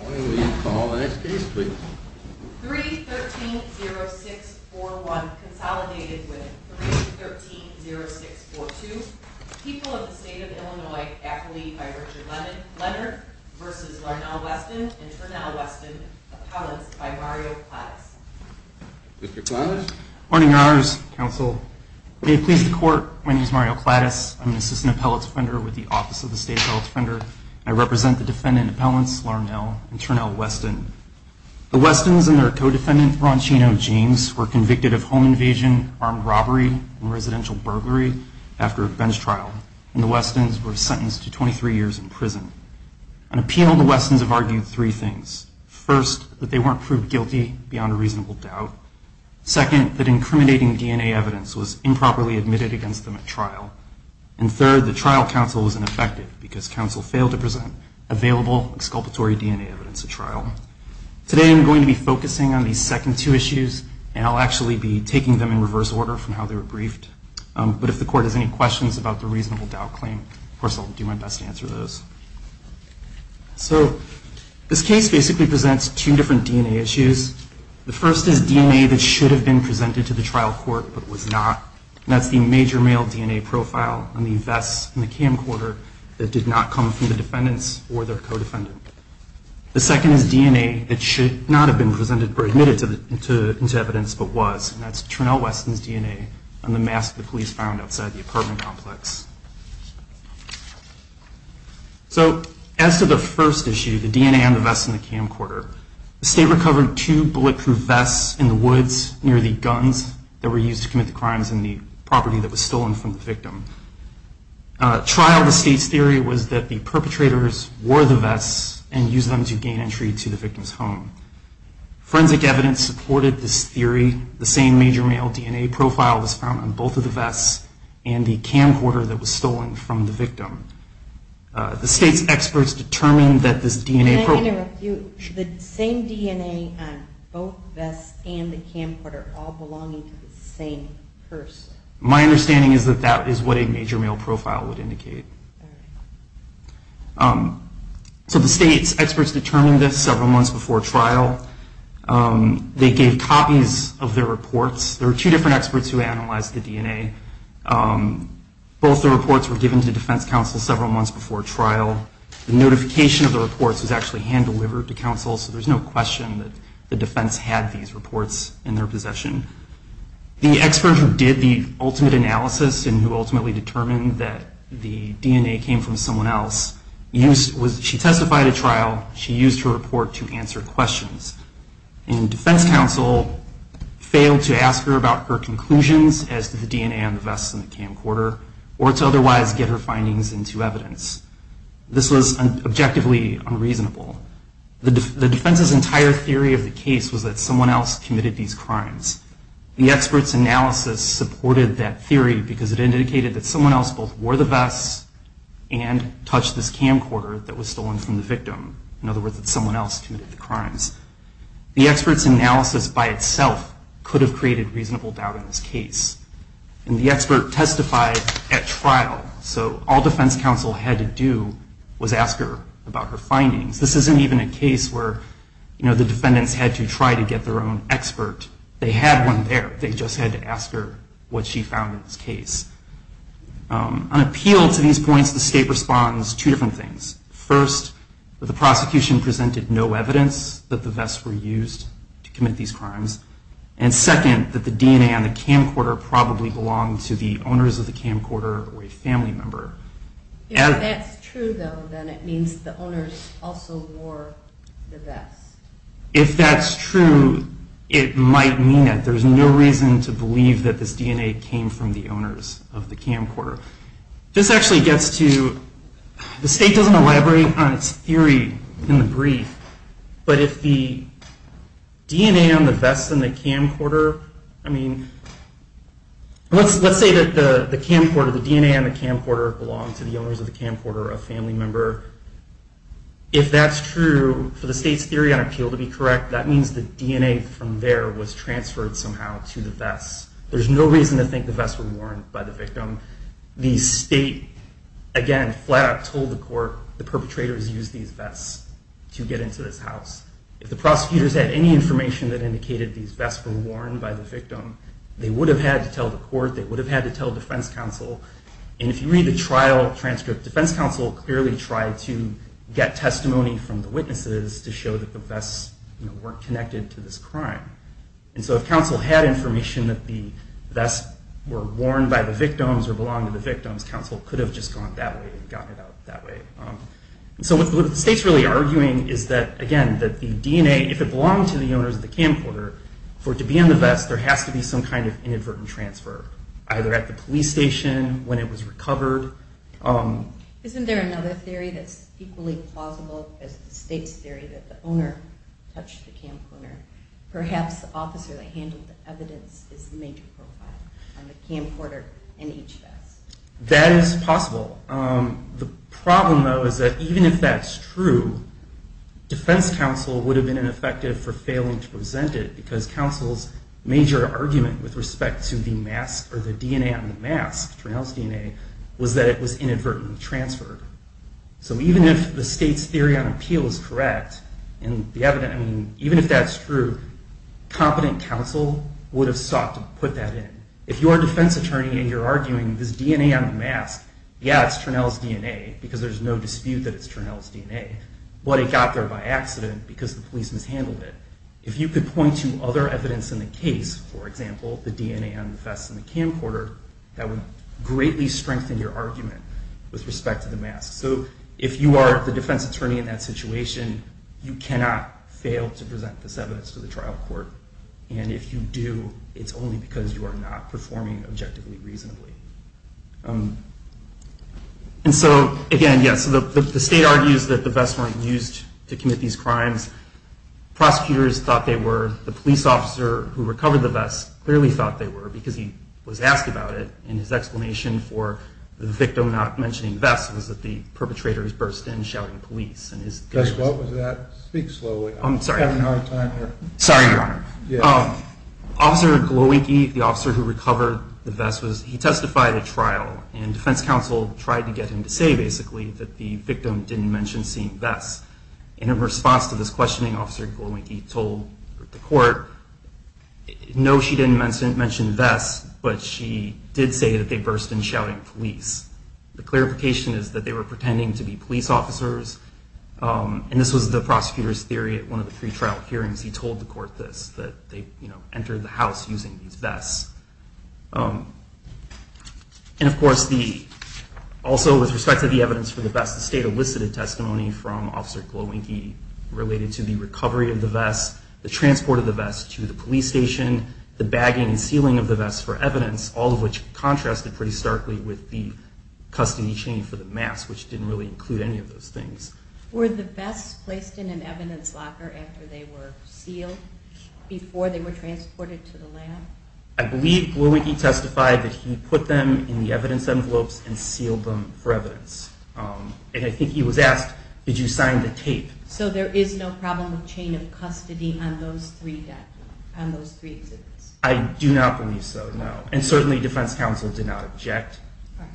Morning we call the next case please. 3-13-0-6-4-1, consolidated with 3-13-0-6-4-2, People of the State of Illinois, Affiliated by Richard Leonard v. Larnell Weston, Internell Weston, Appellants by Mario Clattis. Mr. Clattis? Morning Your Honors, Counsel. May it please the Court, my name is Mario Clattis, I'm an Assistant Appellate Defender with the Office of the State Appellate Defender. I represent the defendant appellants, Larnell and Internell Weston. The Westons and their co-defendant, Roncheno James, were convicted of home invasion, armed robbery, and residential burglary after a bench trial. And the Westons were sentenced to 23 years in prison. On appeal, the Westons have argued three things. First, that they weren't proved guilty beyond a reasonable doubt. Second, that incriminating DNA evidence was improperly admitted against them at trial. And third, that trial counsel was ineffective because counsel failed to present available exculpatory DNA evidence at trial. Today I'm going to be focusing on these second two issues, and I'll actually be taking them in reverse order from how they were briefed. But if the Court has any questions about the reasonable doubt claim, of course I'll do my best to answer those. So this case basically presents two different DNA issues. The first is DNA that should have been presented to the trial court but was not, and that's the major male DNA profile on the vests in the camcorder that did not come from the defendants or their co-defendant. The second is DNA that should not have been presented or admitted to evidence but was, and that's Turnell Weston's DNA on the mask the police found outside the apartment complex. So as to the first issue, the DNA on the vests in the camcorder, the state recovered two bulletproof vests in the woods near the guns that were used to commit the crimes in the property that was stolen from the victim. Trial, the state's theory was that the perpetrators wore the vests and used them to gain entry to the victim's home. Forensic evidence supported this theory. The same major male DNA profile was found on both of the vests and the camcorder that was stolen from the victim. The state's experts determined that this DNA profile... Can I interrupt you? Sure. The same DNA on both vests and the camcorder all belonging to the same person. My understanding is that that is what a major male profile would indicate. So the state's experts determined this several months before trial. They gave copies of their reports. There were two different experts who analyzed the DNA. Both the reports were given to defense counsel several months before trial. The notification of the reports was actually hand-delivered to counsel, so there's no question that the defense had these reports in their possession. The expert who did the ultimate analysis and who ultimately determined that the DNA came from someone else, she testified at trial, she used her report to answer questions. And defense counsel failed to ask her about her conclusions as to the DNA on the vests and the camcorder, or to otherwise get her findings into evidence. This was objectively unreasonable. The defense's entire theory of the case was that someone else committed these crimes. The expert's analysis supported that theory because it indicated that someone else both wore the vests and touched this camcorder that was stolen from the victim. In other words, that someone else committed the crimes. The expert's analysis by itself could have created reasonable doubt in this case. And the expert testified at trial, so all defense counsel had to do was ask her about her findings. This isn't even a case where the defendants had to try to get their own expert. They had one there. They just had to ask her what she found in this case. On appeal to these points, the state responds two different things. First, that the prosecution presented no evidence that the vests were used to commit these crimes. And second, that the DNA on the camcorder probably belonged to the owners of the camcorder or a family member. If that's true, though, then it means the owners also wore the vests. If that's true, it might mean that. There's no reason to believe that this DNA came from the owners of the camcorder. This actually gets to, the state doesn't elaborate on its theory in the brief. But if the DNA on the vests in the camcorder, I mean, let's say that the camcorder, the DNA on the camcorder belonged to the owners of the camcorder or a family member. If that's true, for the state's theory on appeal to be correct, that means the DNA from there was transferred somehow to the vests. There's no reason to think the vests were worn by the victim. The state, again, flat out told the court the perpetrators used these vests to get into this house. If the prosecutors had any information that indicated these vests were worn by the victim, they would have had to tell the court, they would have had to tell defense counsel. And if you read the trial transcript, defense counsel clearly tried to get testimony from the witnesses to show that the vests were connected to this crime. And so if counsel had information that the vests were worn by the victims or belonged to the victims, counsel could have just gone that way and gotten it out that way. And so what the state's really arguing is that, again, that the DNA, if it belonged to the owners of the camcorder, for it to be in the vest, there has to be some kind of inadvertent transfer, either at the police station, when it was recovered. Isn't there another theory that's equally plausible as the state's theory that the owner touched the camcorder? Perhaps the officer that handled the evidence is the major profile on the camcorder and each vest. That is possible. The problem, though, is that even if that's true, defense counsel would have been ineffective for failing to present it because counsel's major argument with respect to the mask or the DNA on the mask, Turnell's DNA, was that it was inadvertently transferred. So even if the state's theory on appeal is correct, and even if that's true, competent counsel would have sought to put that in. If you are a defense attorney and you're arguing this DNA on the mask, yeah, it's Turnell's DNA because there's no dispute that it's Turnell's DNA, but it got there by accident because the police mishandled it. If you could point to other evidence in the case, for example, the DNA on the vest in the camcorder, that would greatly strengthen your argument with respect to the mask. So if you are the defense attorney in that situation, you cannot fail to present this evidence to the trial court. And if you do, it's only because you are not performing objectively reasonably. And so, again, yes, the state argues that the vests weren't used to commit these crimes. Prosecutors thought they were. The police officer who recovered the vest clearly thought they were because he was asked about it, and his explanation for the victim not mentioning the vest was that the perpetrators burst in shouting police. Judge, what was that? Speak slowly. I'm having a hard time here. Sorry, Your Honor. Officer Glowinky, the officer who recovered the vest, he testified at trial, and defense counsel tried to get him to say, basically, that the victim didn't mention seeing vests. And in response to this questioning, Officer Glowinky told the court, no, she didn't mention vests, but she did say that they burst in shouting police. The clarification is that they were pretending to be police officers, and this was the prosecutor's theory at one of the three trial hearings. He told the court this, that they entered the house using these vests. And, of course, also with respect to the evidence for the vest, the state elicited testimony from Officer Glowinky related to the recovery of the vest, the transport of the vest to the police station, the bagging and sealing of the vest for evidence, all of which contrasted pretty starkly with the custody chain for the mask, which didn't really include any of those things. Were the vests placed in an evidence locker after they were sealed, before they were transported to the lab? I believe Glowinky testified that he put them in the evidence envelopes and sealed them for evidence. And I think he was asked, did you sign the tape? So there is no problem with chain of custody on those three exhibits? I do not believe so, no. And certainly defense counsel did not object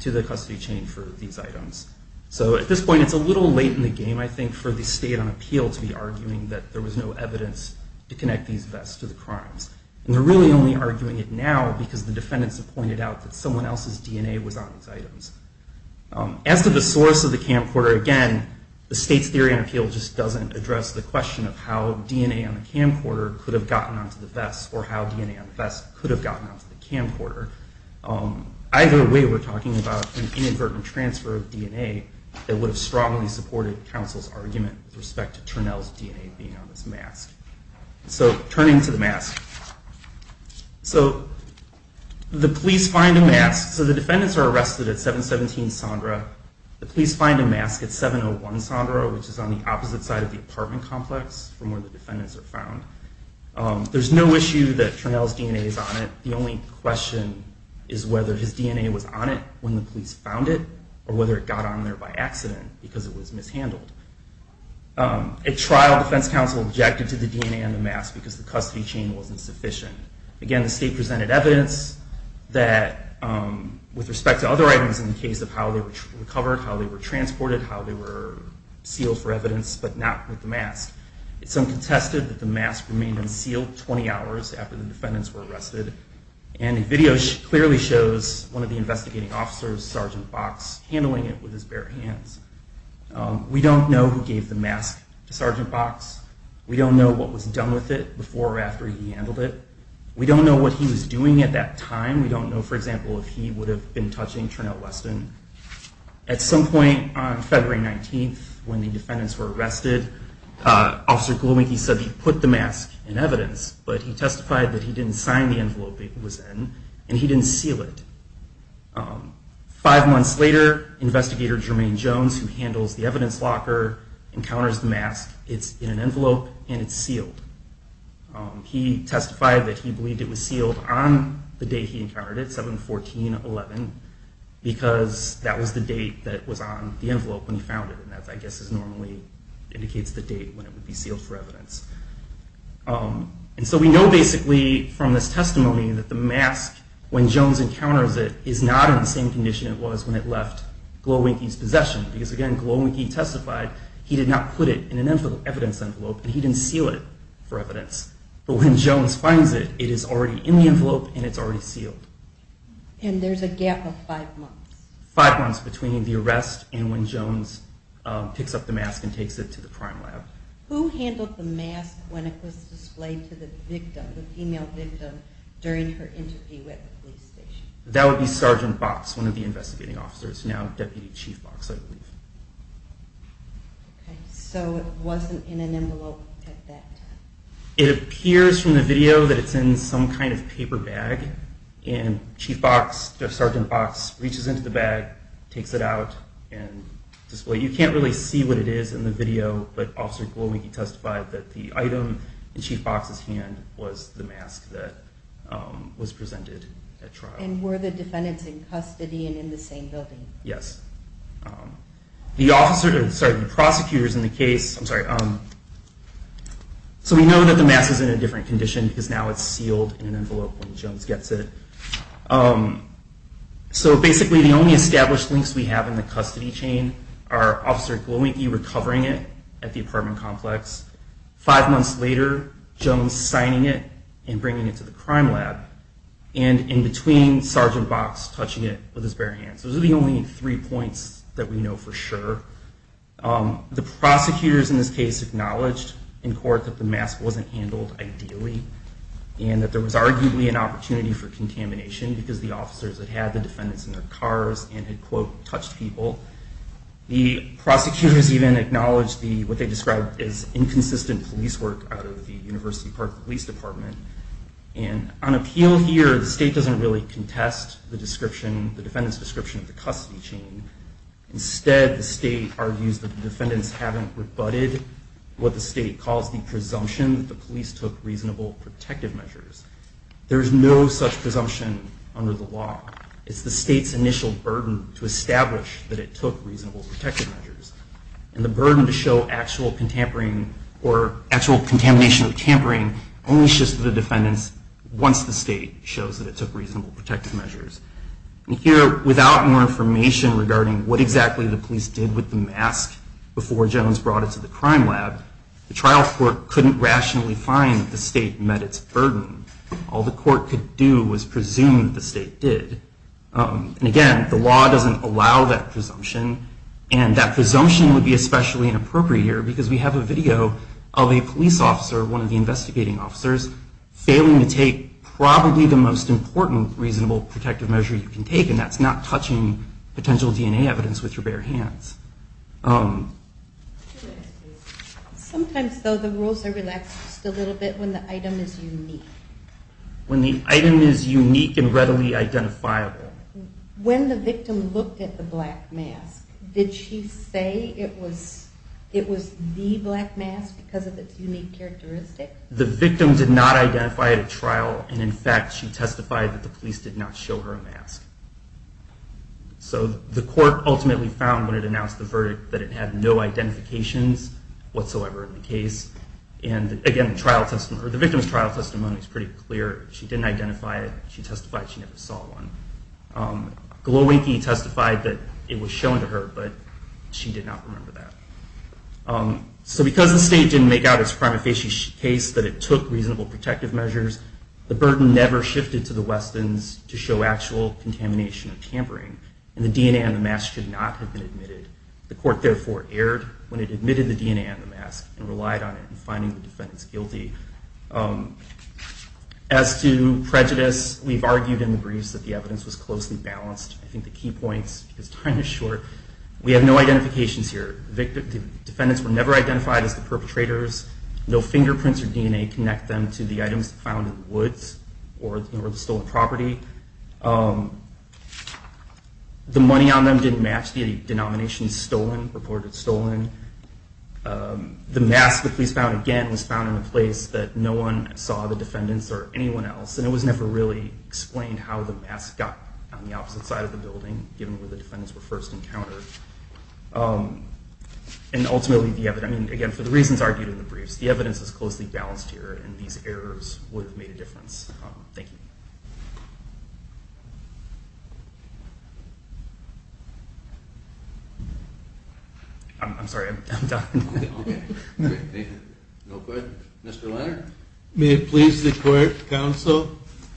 to the custody chain for these items. So at this point, it's a little late in the game, I think, for the state on appeal to be arguing that there was no evidence to connect these vests to the crimes. And they're really only arguing it now because the defendants have pointed out that someone else's DNA was on these items. As to the source of the camcorder, again, the state's theory on appeal just doesn't address the question of how DNA on the camcorder could have gotten onto the vest, or how DNA on the vest could have gotten onto the camcorder. Either way, we're talking about an inadvertent transfer of DNA that would have strongly supported counsel's argument with respect to Turnell's DNA being on this mask. So turning to the mask. So the police find a mask. So the defendants are arrested at 717 Sondra. The police find a mask at 701 Sondra, which is on the opposite side of the apartment complex from where the defendants are found. There's no issue that Turnell's DNA is on it. The only question is whether his DNA was on it when the police found it, or whether it got on there by accident because it was mishandled. At trial, defense counsel objected to the DNA on the mask because the custody chain wasn't sufficient. Again, the state presented evidence that, with respect to other items in the case of how they were recovered, how they were transported, how they were sealed for evidence, but not with the mask. Some contested that the mask remained unsealed 20 hours after the defendants were arrested. And a video clearly shows one of the investigating officers, Sergeant Box, handling it with his bare hands. We don't know who gave the mask to Sergeant Box. We don't know what was done with it before or after he handled it. We don't know what he was doing at that time. We don't know, for example, if he would have been touching Turnell Weston. At some point on February 19th, when the defendants were arrested, Officer Glowinky said he put the mask in evidence, but he testified that he didn't sign the envelope it was in, and he didn't seal it. Five months later, Investigator Jermaine Jones, who handles the evidence locker, encounters the mask. It's in an envelope, and it's sealed. He testified that he believed it was sealed on the day he encountered it, 7-14-11, because that was the date that was on the envelope when he found it. And that, I guess, normally indicates the date when it would be sealed for evidence. And so we know, basically, from this testimony, that the mask, when Jones encounters it, is not in the same condition it was when it left Glowinky's possession. Because, again, Glowinky testified he did not put it in an evidence envelope, and he didn't seal it for evidence. But when Jones finds it, it is already in the envelope, and it's already sealed. And there's a gap of five months. Five months between the arrest and when Jones picks up the mask and takes it to the crime lab. Who handled the mask when it was displayed to the victim, the female victim, during her interview at the police station? That would be Sergeant Box, one of the investigating officers, now Deputy Chief Box, I believe. So it wasn't in an envelope at that time. It appears from the video that it's in some kind of paper bag, and Chief Box, Sergeant Box, reaches into the bag, takes it out, and displays it. You can't really see what it is in the video, but Officer Glowinky testified that the item in Chief Box's hand was the mask that was presented at trial. And were the defendants in custody and in the same building? Yes. The prosecutor is in the case. So we know that the mask is in a different condition, because now it's sealed in an envelope when Jones gets it. So basically, the only established links we have in the custody chain are Officer Glowinky recovering it at the apartment complex, five months later, Jones signing it and bringing it to the crime lab, and in between, Sergeant Box touching it with his bare hands. Those are the only three points that we know for sure. The prosecutors in this case acknowledged in court that the mask wasn't handled ideally and that there was arguably an opportunity for contamination because the officers had had the defendants in their cars and had, quote, touched people. The prosecutors even acknowledged what they described as inconsistent police work out of the University Park Police Department. And on appeal here, the state doesn't really contest the description, the defendant's description of the custody chain. Instead, the state argues that the defendants haven't rebutted what the state calls the presumption that the police took reasonable protective measures. There is no such presumption under the law. It's the state's initial burden to establish that it took reasonable protective measures. And the burden to show actual contamination or tampering only shifts to the defendants once the state shows that it took reasonable protective measures. And here, without more information regarding what exactly the police did with the mask before Jones brought it to the crime lab, the trial court couldn't rationally find that the state met its burden. All the court could do was presume that the state did. And again, the law doesn't allow that presumption. And that presumption would be especially inappropriate here because we have a video of a police officer, one of the investigating officers, failing to take probably the most important reasonable protective measure you can take, and that's not touching potential DNA evidence with your bare hands. Sometimes, though, the rules are relaxed just a little bit when the item is unique. When the item is unique and readily identifiable. When the victim looked at the black mask, did she say it was the black mask because of its unique characteristics? The victim did not identify at a trial, and in fact, she testified that the police did not show her a mask. So the court ultimately found when it announced the verdict that it had no identifications whatsoever in the case. And again, the victim's trial testimony is pretty clear. She didn't identify it. She testified she never saw one. Glowinky testified that it was shown to her, but she did not remember that. So because the state didn't make out its prima facie case that it took reasonable protective measures, the burden never shifted to the Westons to show actual contamination or tampering, and the DNA on the mask should not have been admitted. The court therefore erred when it admitted the DNA on the mask and relied on it in finding the defendants guilty. As to prejudice, we've argued in the briefs that the evidence was closely balanced. I think the key point is time is short. We have no identifications here. The defendants were never identified as the perpetrators. No fingerprints or DNA connect them to the items found in the woods or the stolen property. The money on them didn't match the denomination stolen, reported stolen. The mask the police found, again, was found in a place that no one saw the defendants or anyone else, and it was never really explained how the mask got on the opposite side of the building, given where the defendants were first encountered. And ultimately, again, for the reasons argued in the briefs, the evidence is closely balanced here, and these errors would have made a difference. Thank you. I'm sorry, I'm done. Okay. No questions. Mr. Leonard? May it please the court, counsel,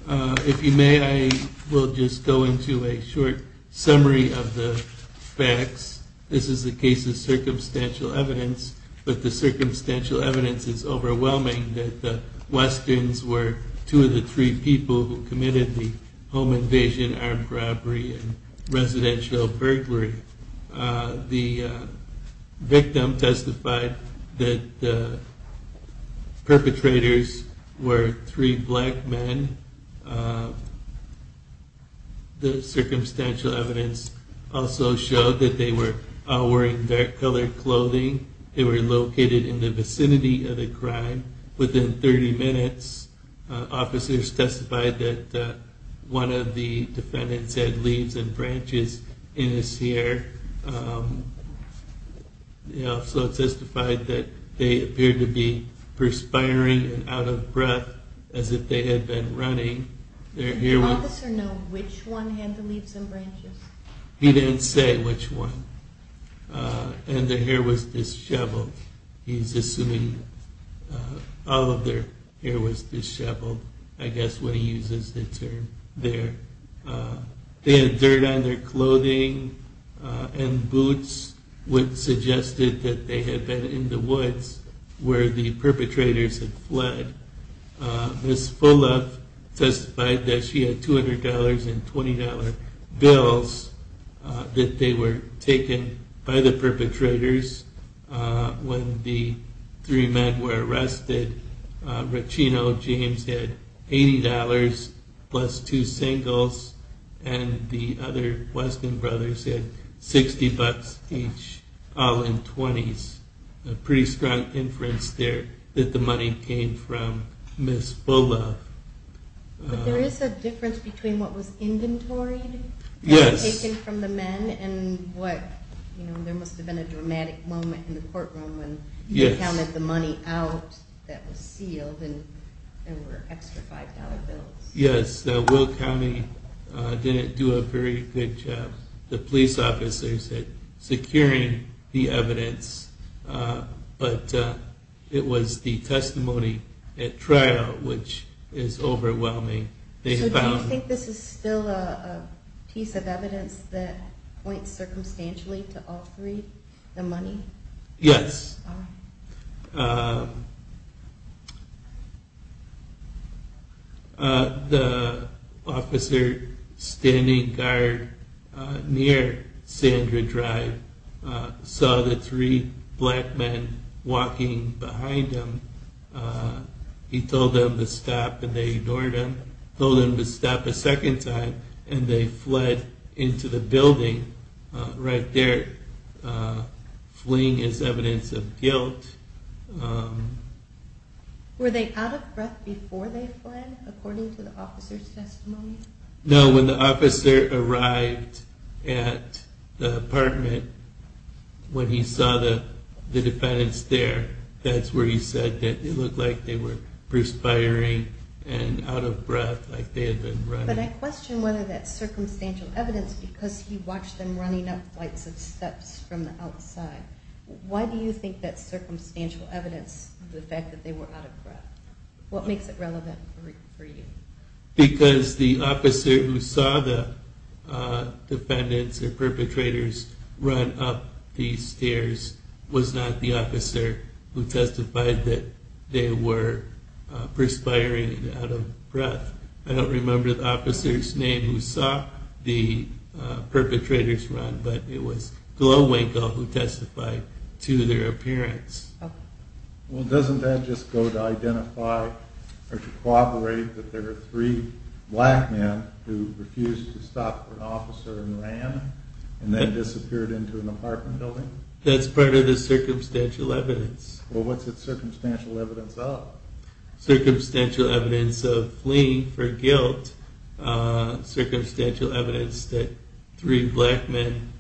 if you may, I will just go into a short summary of the facts. This is the case of circumstantial evidence, but the circumstantial evidence is overwhelming that the Westons were two of the three people who committed the home invasion, armed robbery, and residential burglary. The victim testified that the perpetrators were three black men. The circumstantial evidence also showed that they were all wearing dark-colored clothing. They were located in the vicinity of the crime. Within 30 minutes, officers testified that one of the defendants had leaves and branches in his hair. They also testified that they appeared to be perspiring and out of breath, as if they had been running. Did the officer know which one had the leaves and branches? He didn't say which one. And their hair was disheveled. He's assuming all of their hair was disheveled, I guess, when he uses the term there. They had dirt on their clothing and boots, which suggested that they had been in the woods where the perpetrators had fled. Ms. Fulop testified that she had $200 and $20 bills that they were taken by the perpetrators when the three men were arrested. Rochino James had $80 plus two singles, and the other Weston brothers had $60 each, all in 20s. A pretty strong inference there that the money came from Ms. Fulop. But there is a difference between what was inventoried and taken from the men and what, you know, there must have been a dramatic moment in the courtroom when you counted the money out that was sealed and there were extra $5 bills. Yes, Will County didn't do a very good job. The police officers had secured the evidence, but it was the testimony at trial which is overwhelming. So do you think this is still a piece of evidence that points circumstantially to all three, the money? Yes. The officer standing guard near Sandra Drive saw the three black men walking behind him. He told them to stop and they ignored him, told them to stop a second time, and they fled into the building right there. Fleeing is evidence of guilt. Were they out of breath before they fled, according to the officer's testimony? No, when the officer arrived at the apartment, when he saw the defendants there, that's where he said that they looked like they had been running. But I question whether that circumstantial evidence, because he watched them running up flights of steps from the outside, why do you think that circumstantial evidence, the fact that they were out of breath, what makes it relevant for you? Because the officer who saw the defendants or perpetrators run up these stairs was not the officer who testified that they were perspiring and out of breath. I don't remember the officer's name who saw the perpetrators run, but it was Glowwinkle who testified to their appearance. Well doesn't that just go to identify or to corroborate that there were three black men who refused to stop for an officer and ran and then disappeared into an apartment building? That's part of the circumstantial evidence. Circumstantial evidence of fleeing for guilt, circumstantial evidence that three black men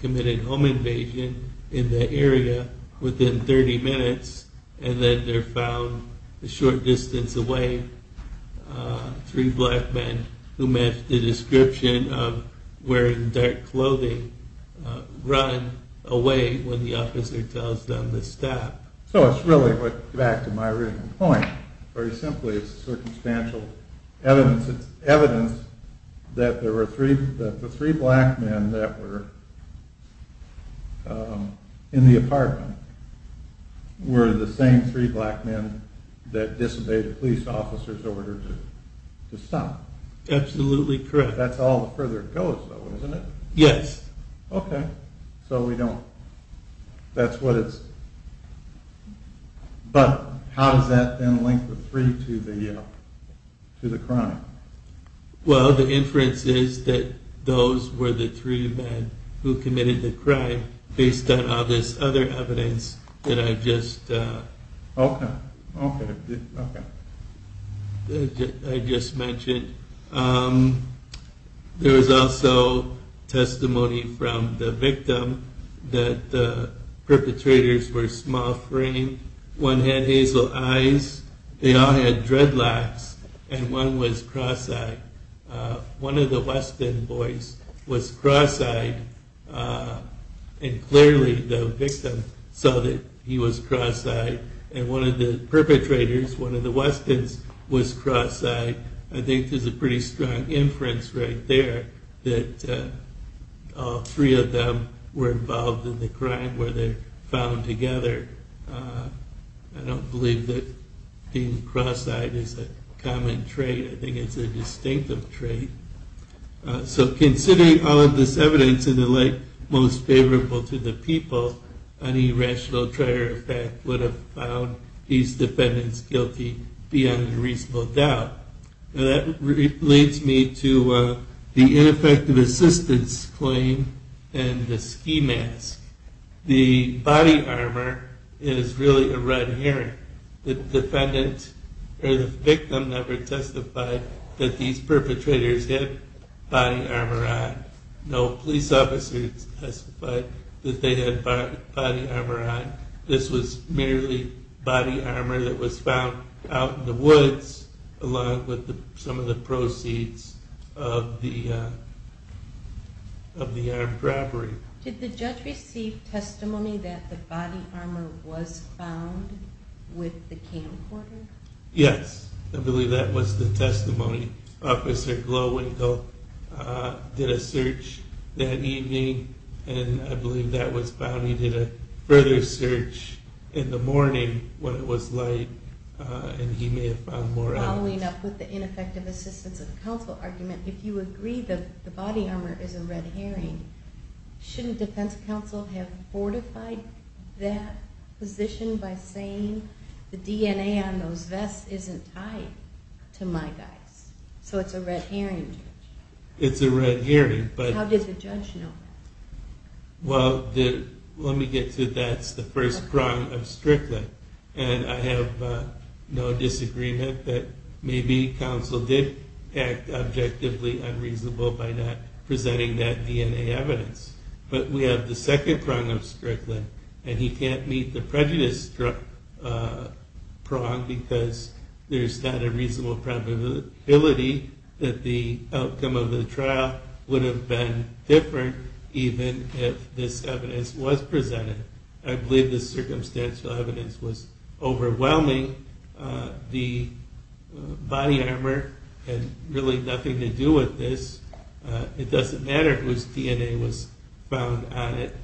committed home invasion in the area within 30 minutes and then they're found a short distance away, three black men who met the description of wearing dark clothing run away when the officer tells them to stop. So it's really, back to my original point, very simply, it's circumstantial evidence that the three black men that were in the apartment were the same three black men that disobeyed a police officer's order to stop. Absolutely correct. That's all the further it goes though, isn't it? Yes. But how does that then link the three to the crime? Well the inference is that those were the three men who committed the crime based on all this other evidence that I just mentioned. There was also testimony from the victim that the perpetrators were small-framed. One had hazel eyes, they all had dreadlocks, and one was cross-eyed. One of the Weston boys was cross-eyed and clearly the victim saw that he was cross-eyed and one of the perpetrators, one of the Westons, was cross-eyed. I think there's a pretty strong inference right there that all three of them were involved in the crime where they found together. I don't believe that being cross-eyed is a common trait. I think it's a distinctive trait. So considering all of this evidence and the like, most favorable to the people, any rational trier of fact would have found these defendants guilty beyond a reasonable doubt. That leads me to the ineffective assistance claim and the ski mask. The body armor is really a red herring. The defendant or the victim never testified that these perpetrators had body armor on. No police officer testified that they had body armor on. This was merely body armor that was found out in the woods along with some of the proceeds of the armed robbery. Did the judge receive testimony that the body armor was found with the camcorder? Yes, I believe that was the testimony. Officer Glowinkle did a search that evening and I believe that was found. He did a further search in the morning when it was light and he may have found more out. Following up with the ineffective assistance of counsel argument, if you agree that the body armor is a red herring, shouldn't defense counsel have fortified that position by saying the DNA on those vests isn't tied to my guys? It's a red herring. How does the judge know? That's the first prong of Strickland and I have no disagreement that maybe counsel did act objectively unreasonable by not presenting that DNA evidence. But we have the second prong of Strickland and he can't meet the prejudice prong because there's not a reasonable probability that the outcome of the trial would have been different even if this evidence was presented. I believe the circumstantial evidence was overwhelming. The body armor had really nothing to do with this. It doesn't matter whose DNA was found on it.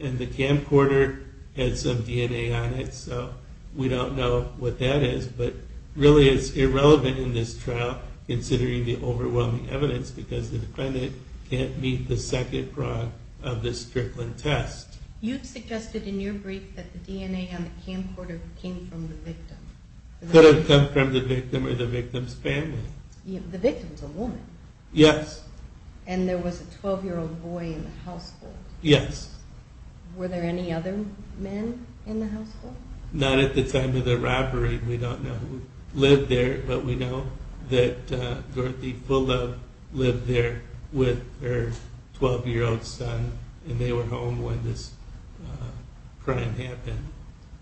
And the camcorder had some DNA on it so we don't know what that is but really it's irrelevant in this trial considering the overwhelming evidence because the defendant can't meet the second prong of this Strickland test. You suggested in your brief that the DNA on the camcorder came from the victim. Could have come from the victim or the victim's family. The victim's a woman. Yes. And there was a 12 year old boy in the household. Yes. Were there any other men in the household? Not at the time of the robbery. We don't know who lived there but we know that Dorothy lived there with her 12 year old son and they were home when this crime happened.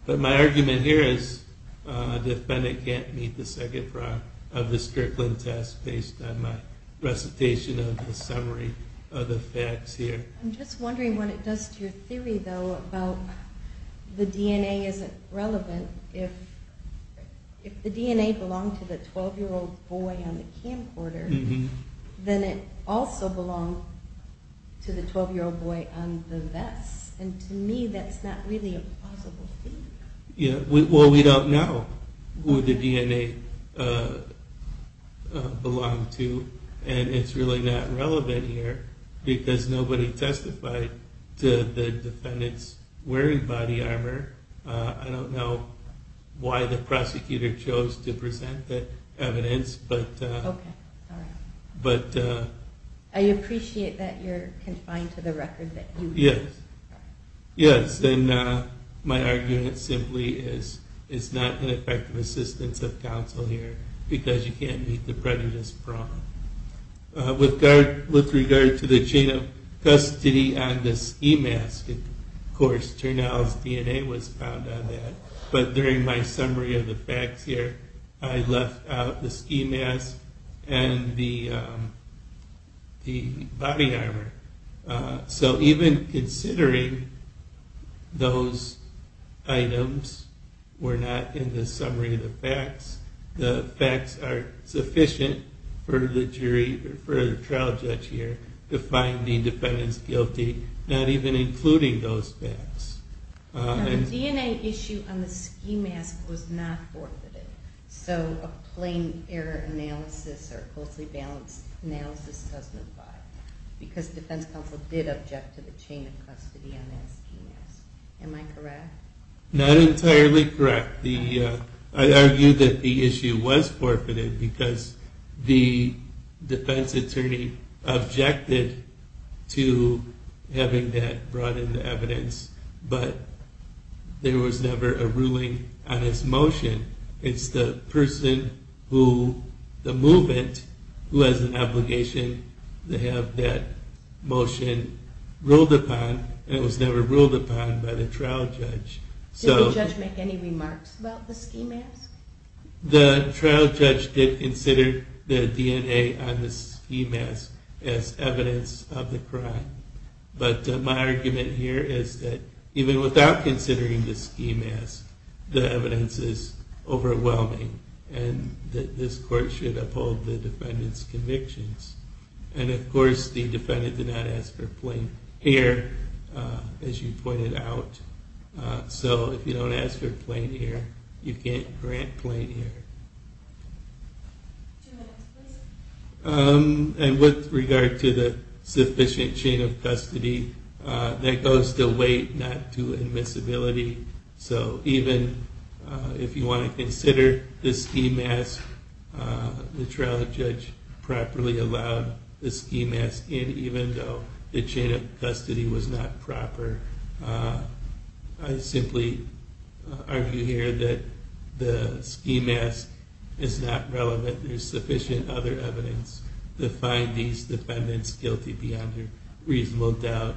But my argument here is the defendant can't meet the second prong of this Strickland test based on my recitation of the summary of the facts here. I'm just wondering what it does to your theory though about the DNA isn't relevant if the DNA belonged to the 12 year old boy on the camcorder then it also belonged to the 12 year old boy on the vest and to me that's not really a plausible theory. Well we don't know who the DNA belonged to and it's really not relevant here because nobody testified to the defendant's wearing body armor. I don't know why the prosecutor chose to present the I appreciate that you're confined to the record. Yes and my argument simply is it's not an effective assistance of counsel here because you can't meet the prejudice prong. With regard to the chain of custody on the ski mask of course Turnell's DNA was found on that but during my summary of the facts here I left out the ski mask and the body armor. So even considering those items were not in the summary of the facts, the facts are sufficient for the jury or for the trial judge here to find the defendant's guilty not even including those facts. The DNA issue on the ski mask was not forfeited so a plain error analysis or closely balanced analysis doesn't apply because defense counsel did object to the chain of custody on that ski mask. Am I correct? Not entirely correct. I argue that the issue was forfeited because the defense attorney objected to having that brought into evidence but there was never a ruling on his motion. It's the person who, the movement who has an obligation to have that motion ruled upon and it was never ruled upon by the trial judge. Did the judge make any remarks about the ski mask? The trial judge did consider the DNA on the ski mask as evidence of the crime but my argument here is that even without considering the ski mask the evidence is overwhelming and this court should uphold the defendant's convictions and of course the defendant did not ask for plain hair as you can see here. And with regard to the sufficient chain of custody that goes to weight not to admissibility so even if you want to consider the ski mask the trial judge properly allowed the ski mask in even though the chain of custody was not proper. I simply argue here that the ski mask is not relevant. There is sufficient other evidence to find these defendants guilty beyond a reasonable doubt.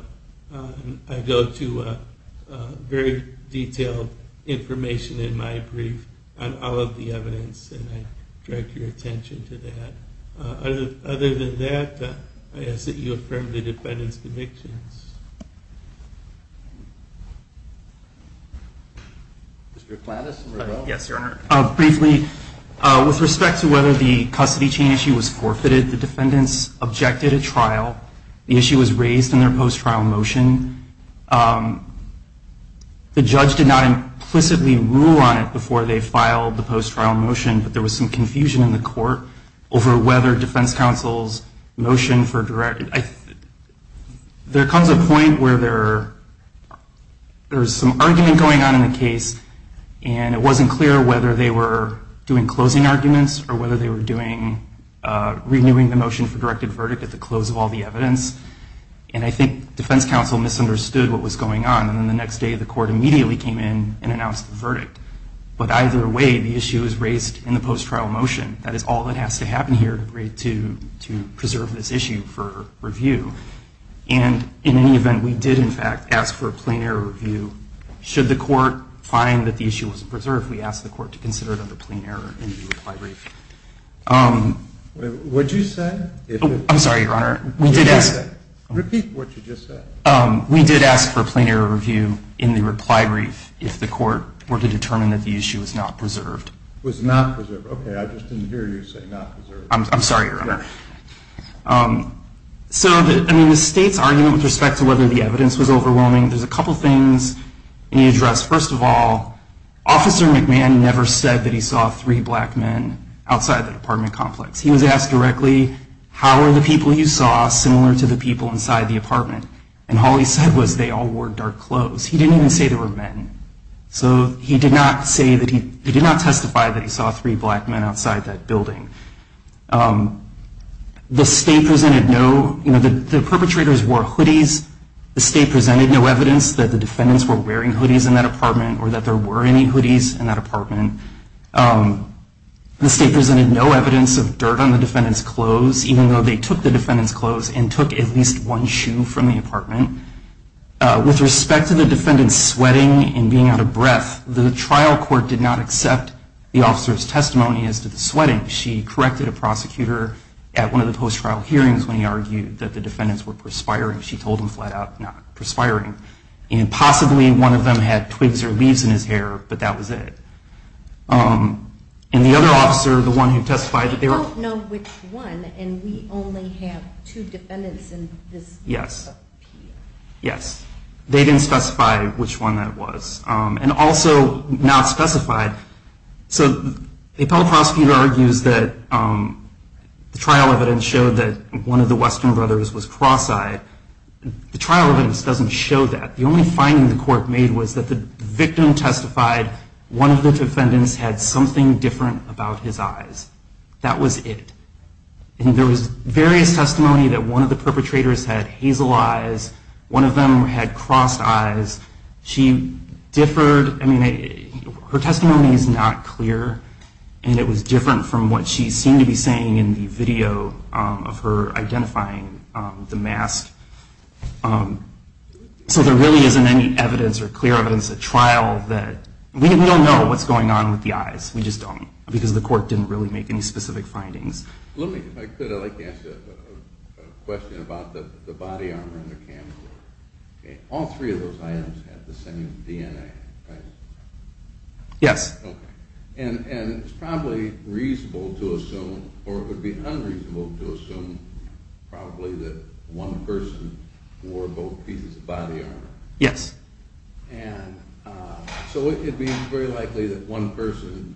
I go to a very detailed information in my brief on all of the evidence and I direct your attention to that. Other than that I ask that you affirm the defendant's convictions. Mr. Flannis. Yes your honor. Briefly with respect to whether the custody chain issue was forfeited the defendants objected at trial. The issue was raised in their post trial motion. The judge did not implicitly rule on it before they filed the post trial motion but there was some confusion in the court over whether defense counsel's motion for there comes a point where there is some argument going on in the case and it wasn't clear whether they were doing closing arguments or whether they were doing renewing the motion for directed verdict at the close of all the evidence. And I think defense counsel misunderstood what was going on. And the next day the court immediately came in and announced the verdict. But either way the issue is raised in the post trial motion. That is all that has to happen here to preserve this issue for review. And in any event we did in fact ask for a plain error review should the court find that the issue was preserved we asked the court to consider it under plain error. What did you say? I'm sorry your honor. Repeat what you just said. We did ask for a plain error review in the reply brief if the court were to determine that the issue was not preserved. Was not preserved. Okay I just didn't hear you say not preserved. I'm sorry your honor. So I mean the state's argument with respect to whether the evidence was overwhelming there's a couple things in the address. First of all officer McMahon never said that he saw three black men outside the apartment complex. He was asked directly how are the people you saw similar to the people inside the apartment. And all he said was they all wore dark clothes. He didn't even say they were men. So he did not say that he did not testify that he saw three black men outside that building. The state presented no you know the perpetrators wore hoodies. The state presented no evidence that the defendants were wearing hoodies in that apartment. The state presented no evidence of dirt on the defendants clothes even though they took the defendants clothes and took at least one shoe from the apartment. With respect to the defendants sweating and being out of breath the trial court did not accept the officers testimony as to the sweating. She corrected a prosecutor at one of the post trial hearings when he argued that the defendants were perspiring. She told him flat out not perspiring. And possibly one of them had twigs or leaves in his hair but that was it. And the other officer the one who testified. We don't know which one and we only have two defendants in this. Yes. They didn't specify which one that was. And also not specified. So the appellate prosecutor argues that the trial evidence showed that one of the Western court made was that the victim testified one of the defendants had something different about his eyes. That was it. And there was various testimony that one of the perpetrators had hazel eyes. One of them had crossed eyes. She differed. I mean her testimony is not clear. And it was different from what she seemed to be saying in the video of her evidence or clear evidence at trial that we don't know what's going on with the eyes. We just don't. Because the court didn't really make any specific findings. I'd like to ask a question about the body armor and the camcorder. All three of those items had the same DNA. Yes. And it's probably reasonable to assume or it would be unreasonable to assume probably that one person wore both pieces of body armor. Yes. And so it would be very likely that one person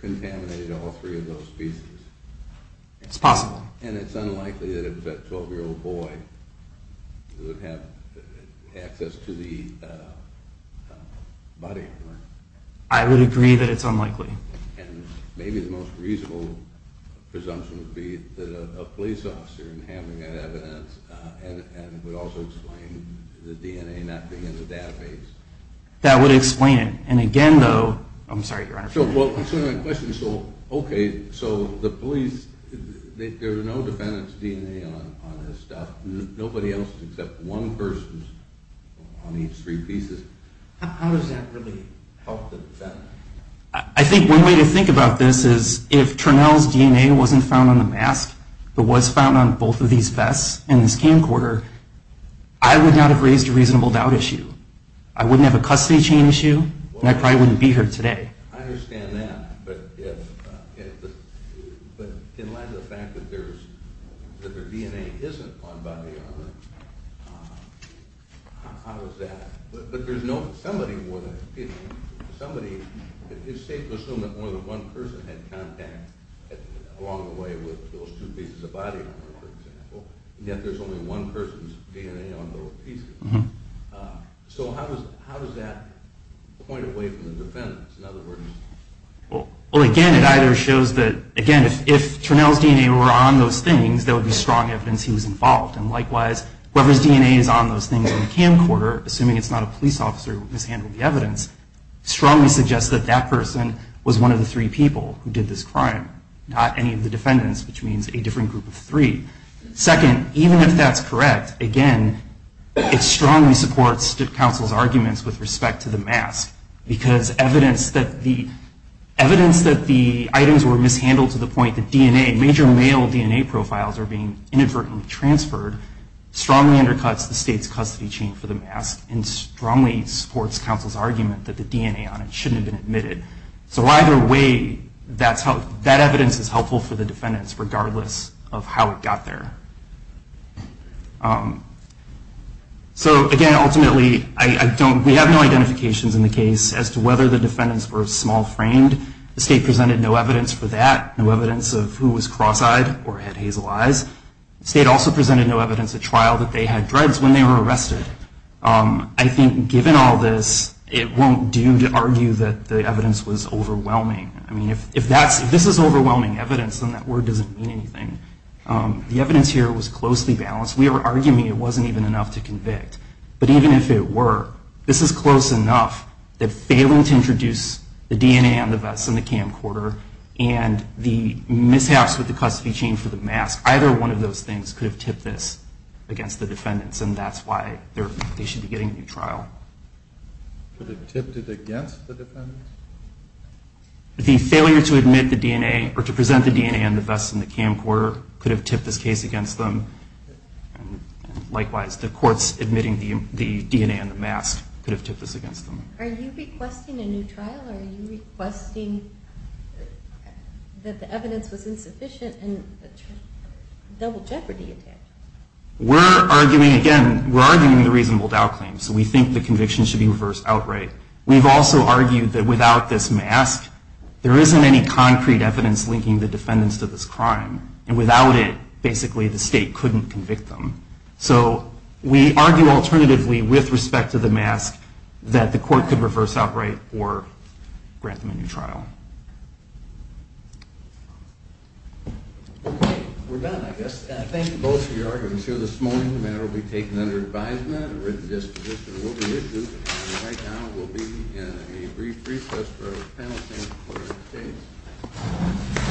contaminated all three of those pieces. It's possible. And it's unlikely that a 12 year old boy would have access to the body armor. I would agree that it's unlikely. And maybe the most reasonable presumption would be that a police officer would have that evidence and would also explain the DNA not being in the database. That would explain it. And again though, I'm sorry Your Honor. So the police, there are no defendants DNA on this stuff. Nobody else except one person on each three pieces. How does that really help the defendant? I think one way to think about this is if Turnell's DNA wasn't found on the mask but was found on both of these vests and the camcorder, I would not have raised a reasonable doubt issue. I wouldn't have a custody chain issue and I probably wouldn't be here today. I understand that. But in light of the fact that there's evidence that there DNA isn't on body armor, how does that, but there's no, somebody, it's safe to assume that more than one person had contact along the way with those two pieces of body armor for example, yet there's only one person's DNA on those pieces. So how does that point away from the defendants? Well again, it either shows that, again, if Turnell's DNA were on those things, there would be strong evidence he was involved. And likewise, whoever's DNA is on those things on the camcorder, assuming it's not a police officer who mishandled the evidence, strongly suggests that that person was one of the three people who did this crime, not any of the defendants, which means a different group of three. Second, even if that's correct, again, it strongly supports counsel's arguments with respect to the mask, because evidence that the items were mishandled to the point that DNA, major male DNA profiles, are being inadvertently transferred, strongly undercuts the state's custody chain for the mask and strongly supports counsel's argument that the DNA on it shouldn't have been admitted. So either way, that evidence is helpful for the defendants regardless of how it got there. So again, ultimately, we have no identifications in the case as to whether the defendants were small-framed. The state presented no evidence for that, no evidence of who was cross-eyed or had hazel eyes. The state also presented no evidence at trial that they had dreads when they were arrested. I think given all this, it won't do to argue that the evidence was overwhelming. I mean, if this is overwhelming evidence, then that word doesn't mean anything. The evidence here was closely balanced. We are arguing it wasn't even enough to convict. But even if it were, this is close enough that failing to introduce the DNA on the vest and the camcorder and the mishaps with the custody chain for the mask, either one of those things could have tipped this against the defendants, and that's why they should be getting a new trial. Could have tipped it against the defendants? The failure to present the DNA on the vest and the camcorder could have tipped this case against them. Likewise, the courts admitting the DNA on the mask could have tipped this against them. Are you requesting a new trial, or are you requesting that the evidence was insufficient and a double jeopardy attempt? We're arguing, again, we're arguing the reasonable doubt claim. So we think the conviction should be reversed outright. We've also argued that without this mask, there isn't any concrete evidence linking the defendants to this crime. And without it, basically, the state couldn't convict them. So we argue alternatively, with respect to the mask, that the court could reverse outright or grant them a new trial. Okay, we're done, I guess. Thank you both for your arguments here this morning. The matter will be taken under advisement. A written disposition will be issued. Right now, we'll be in a brief recess for a panel session.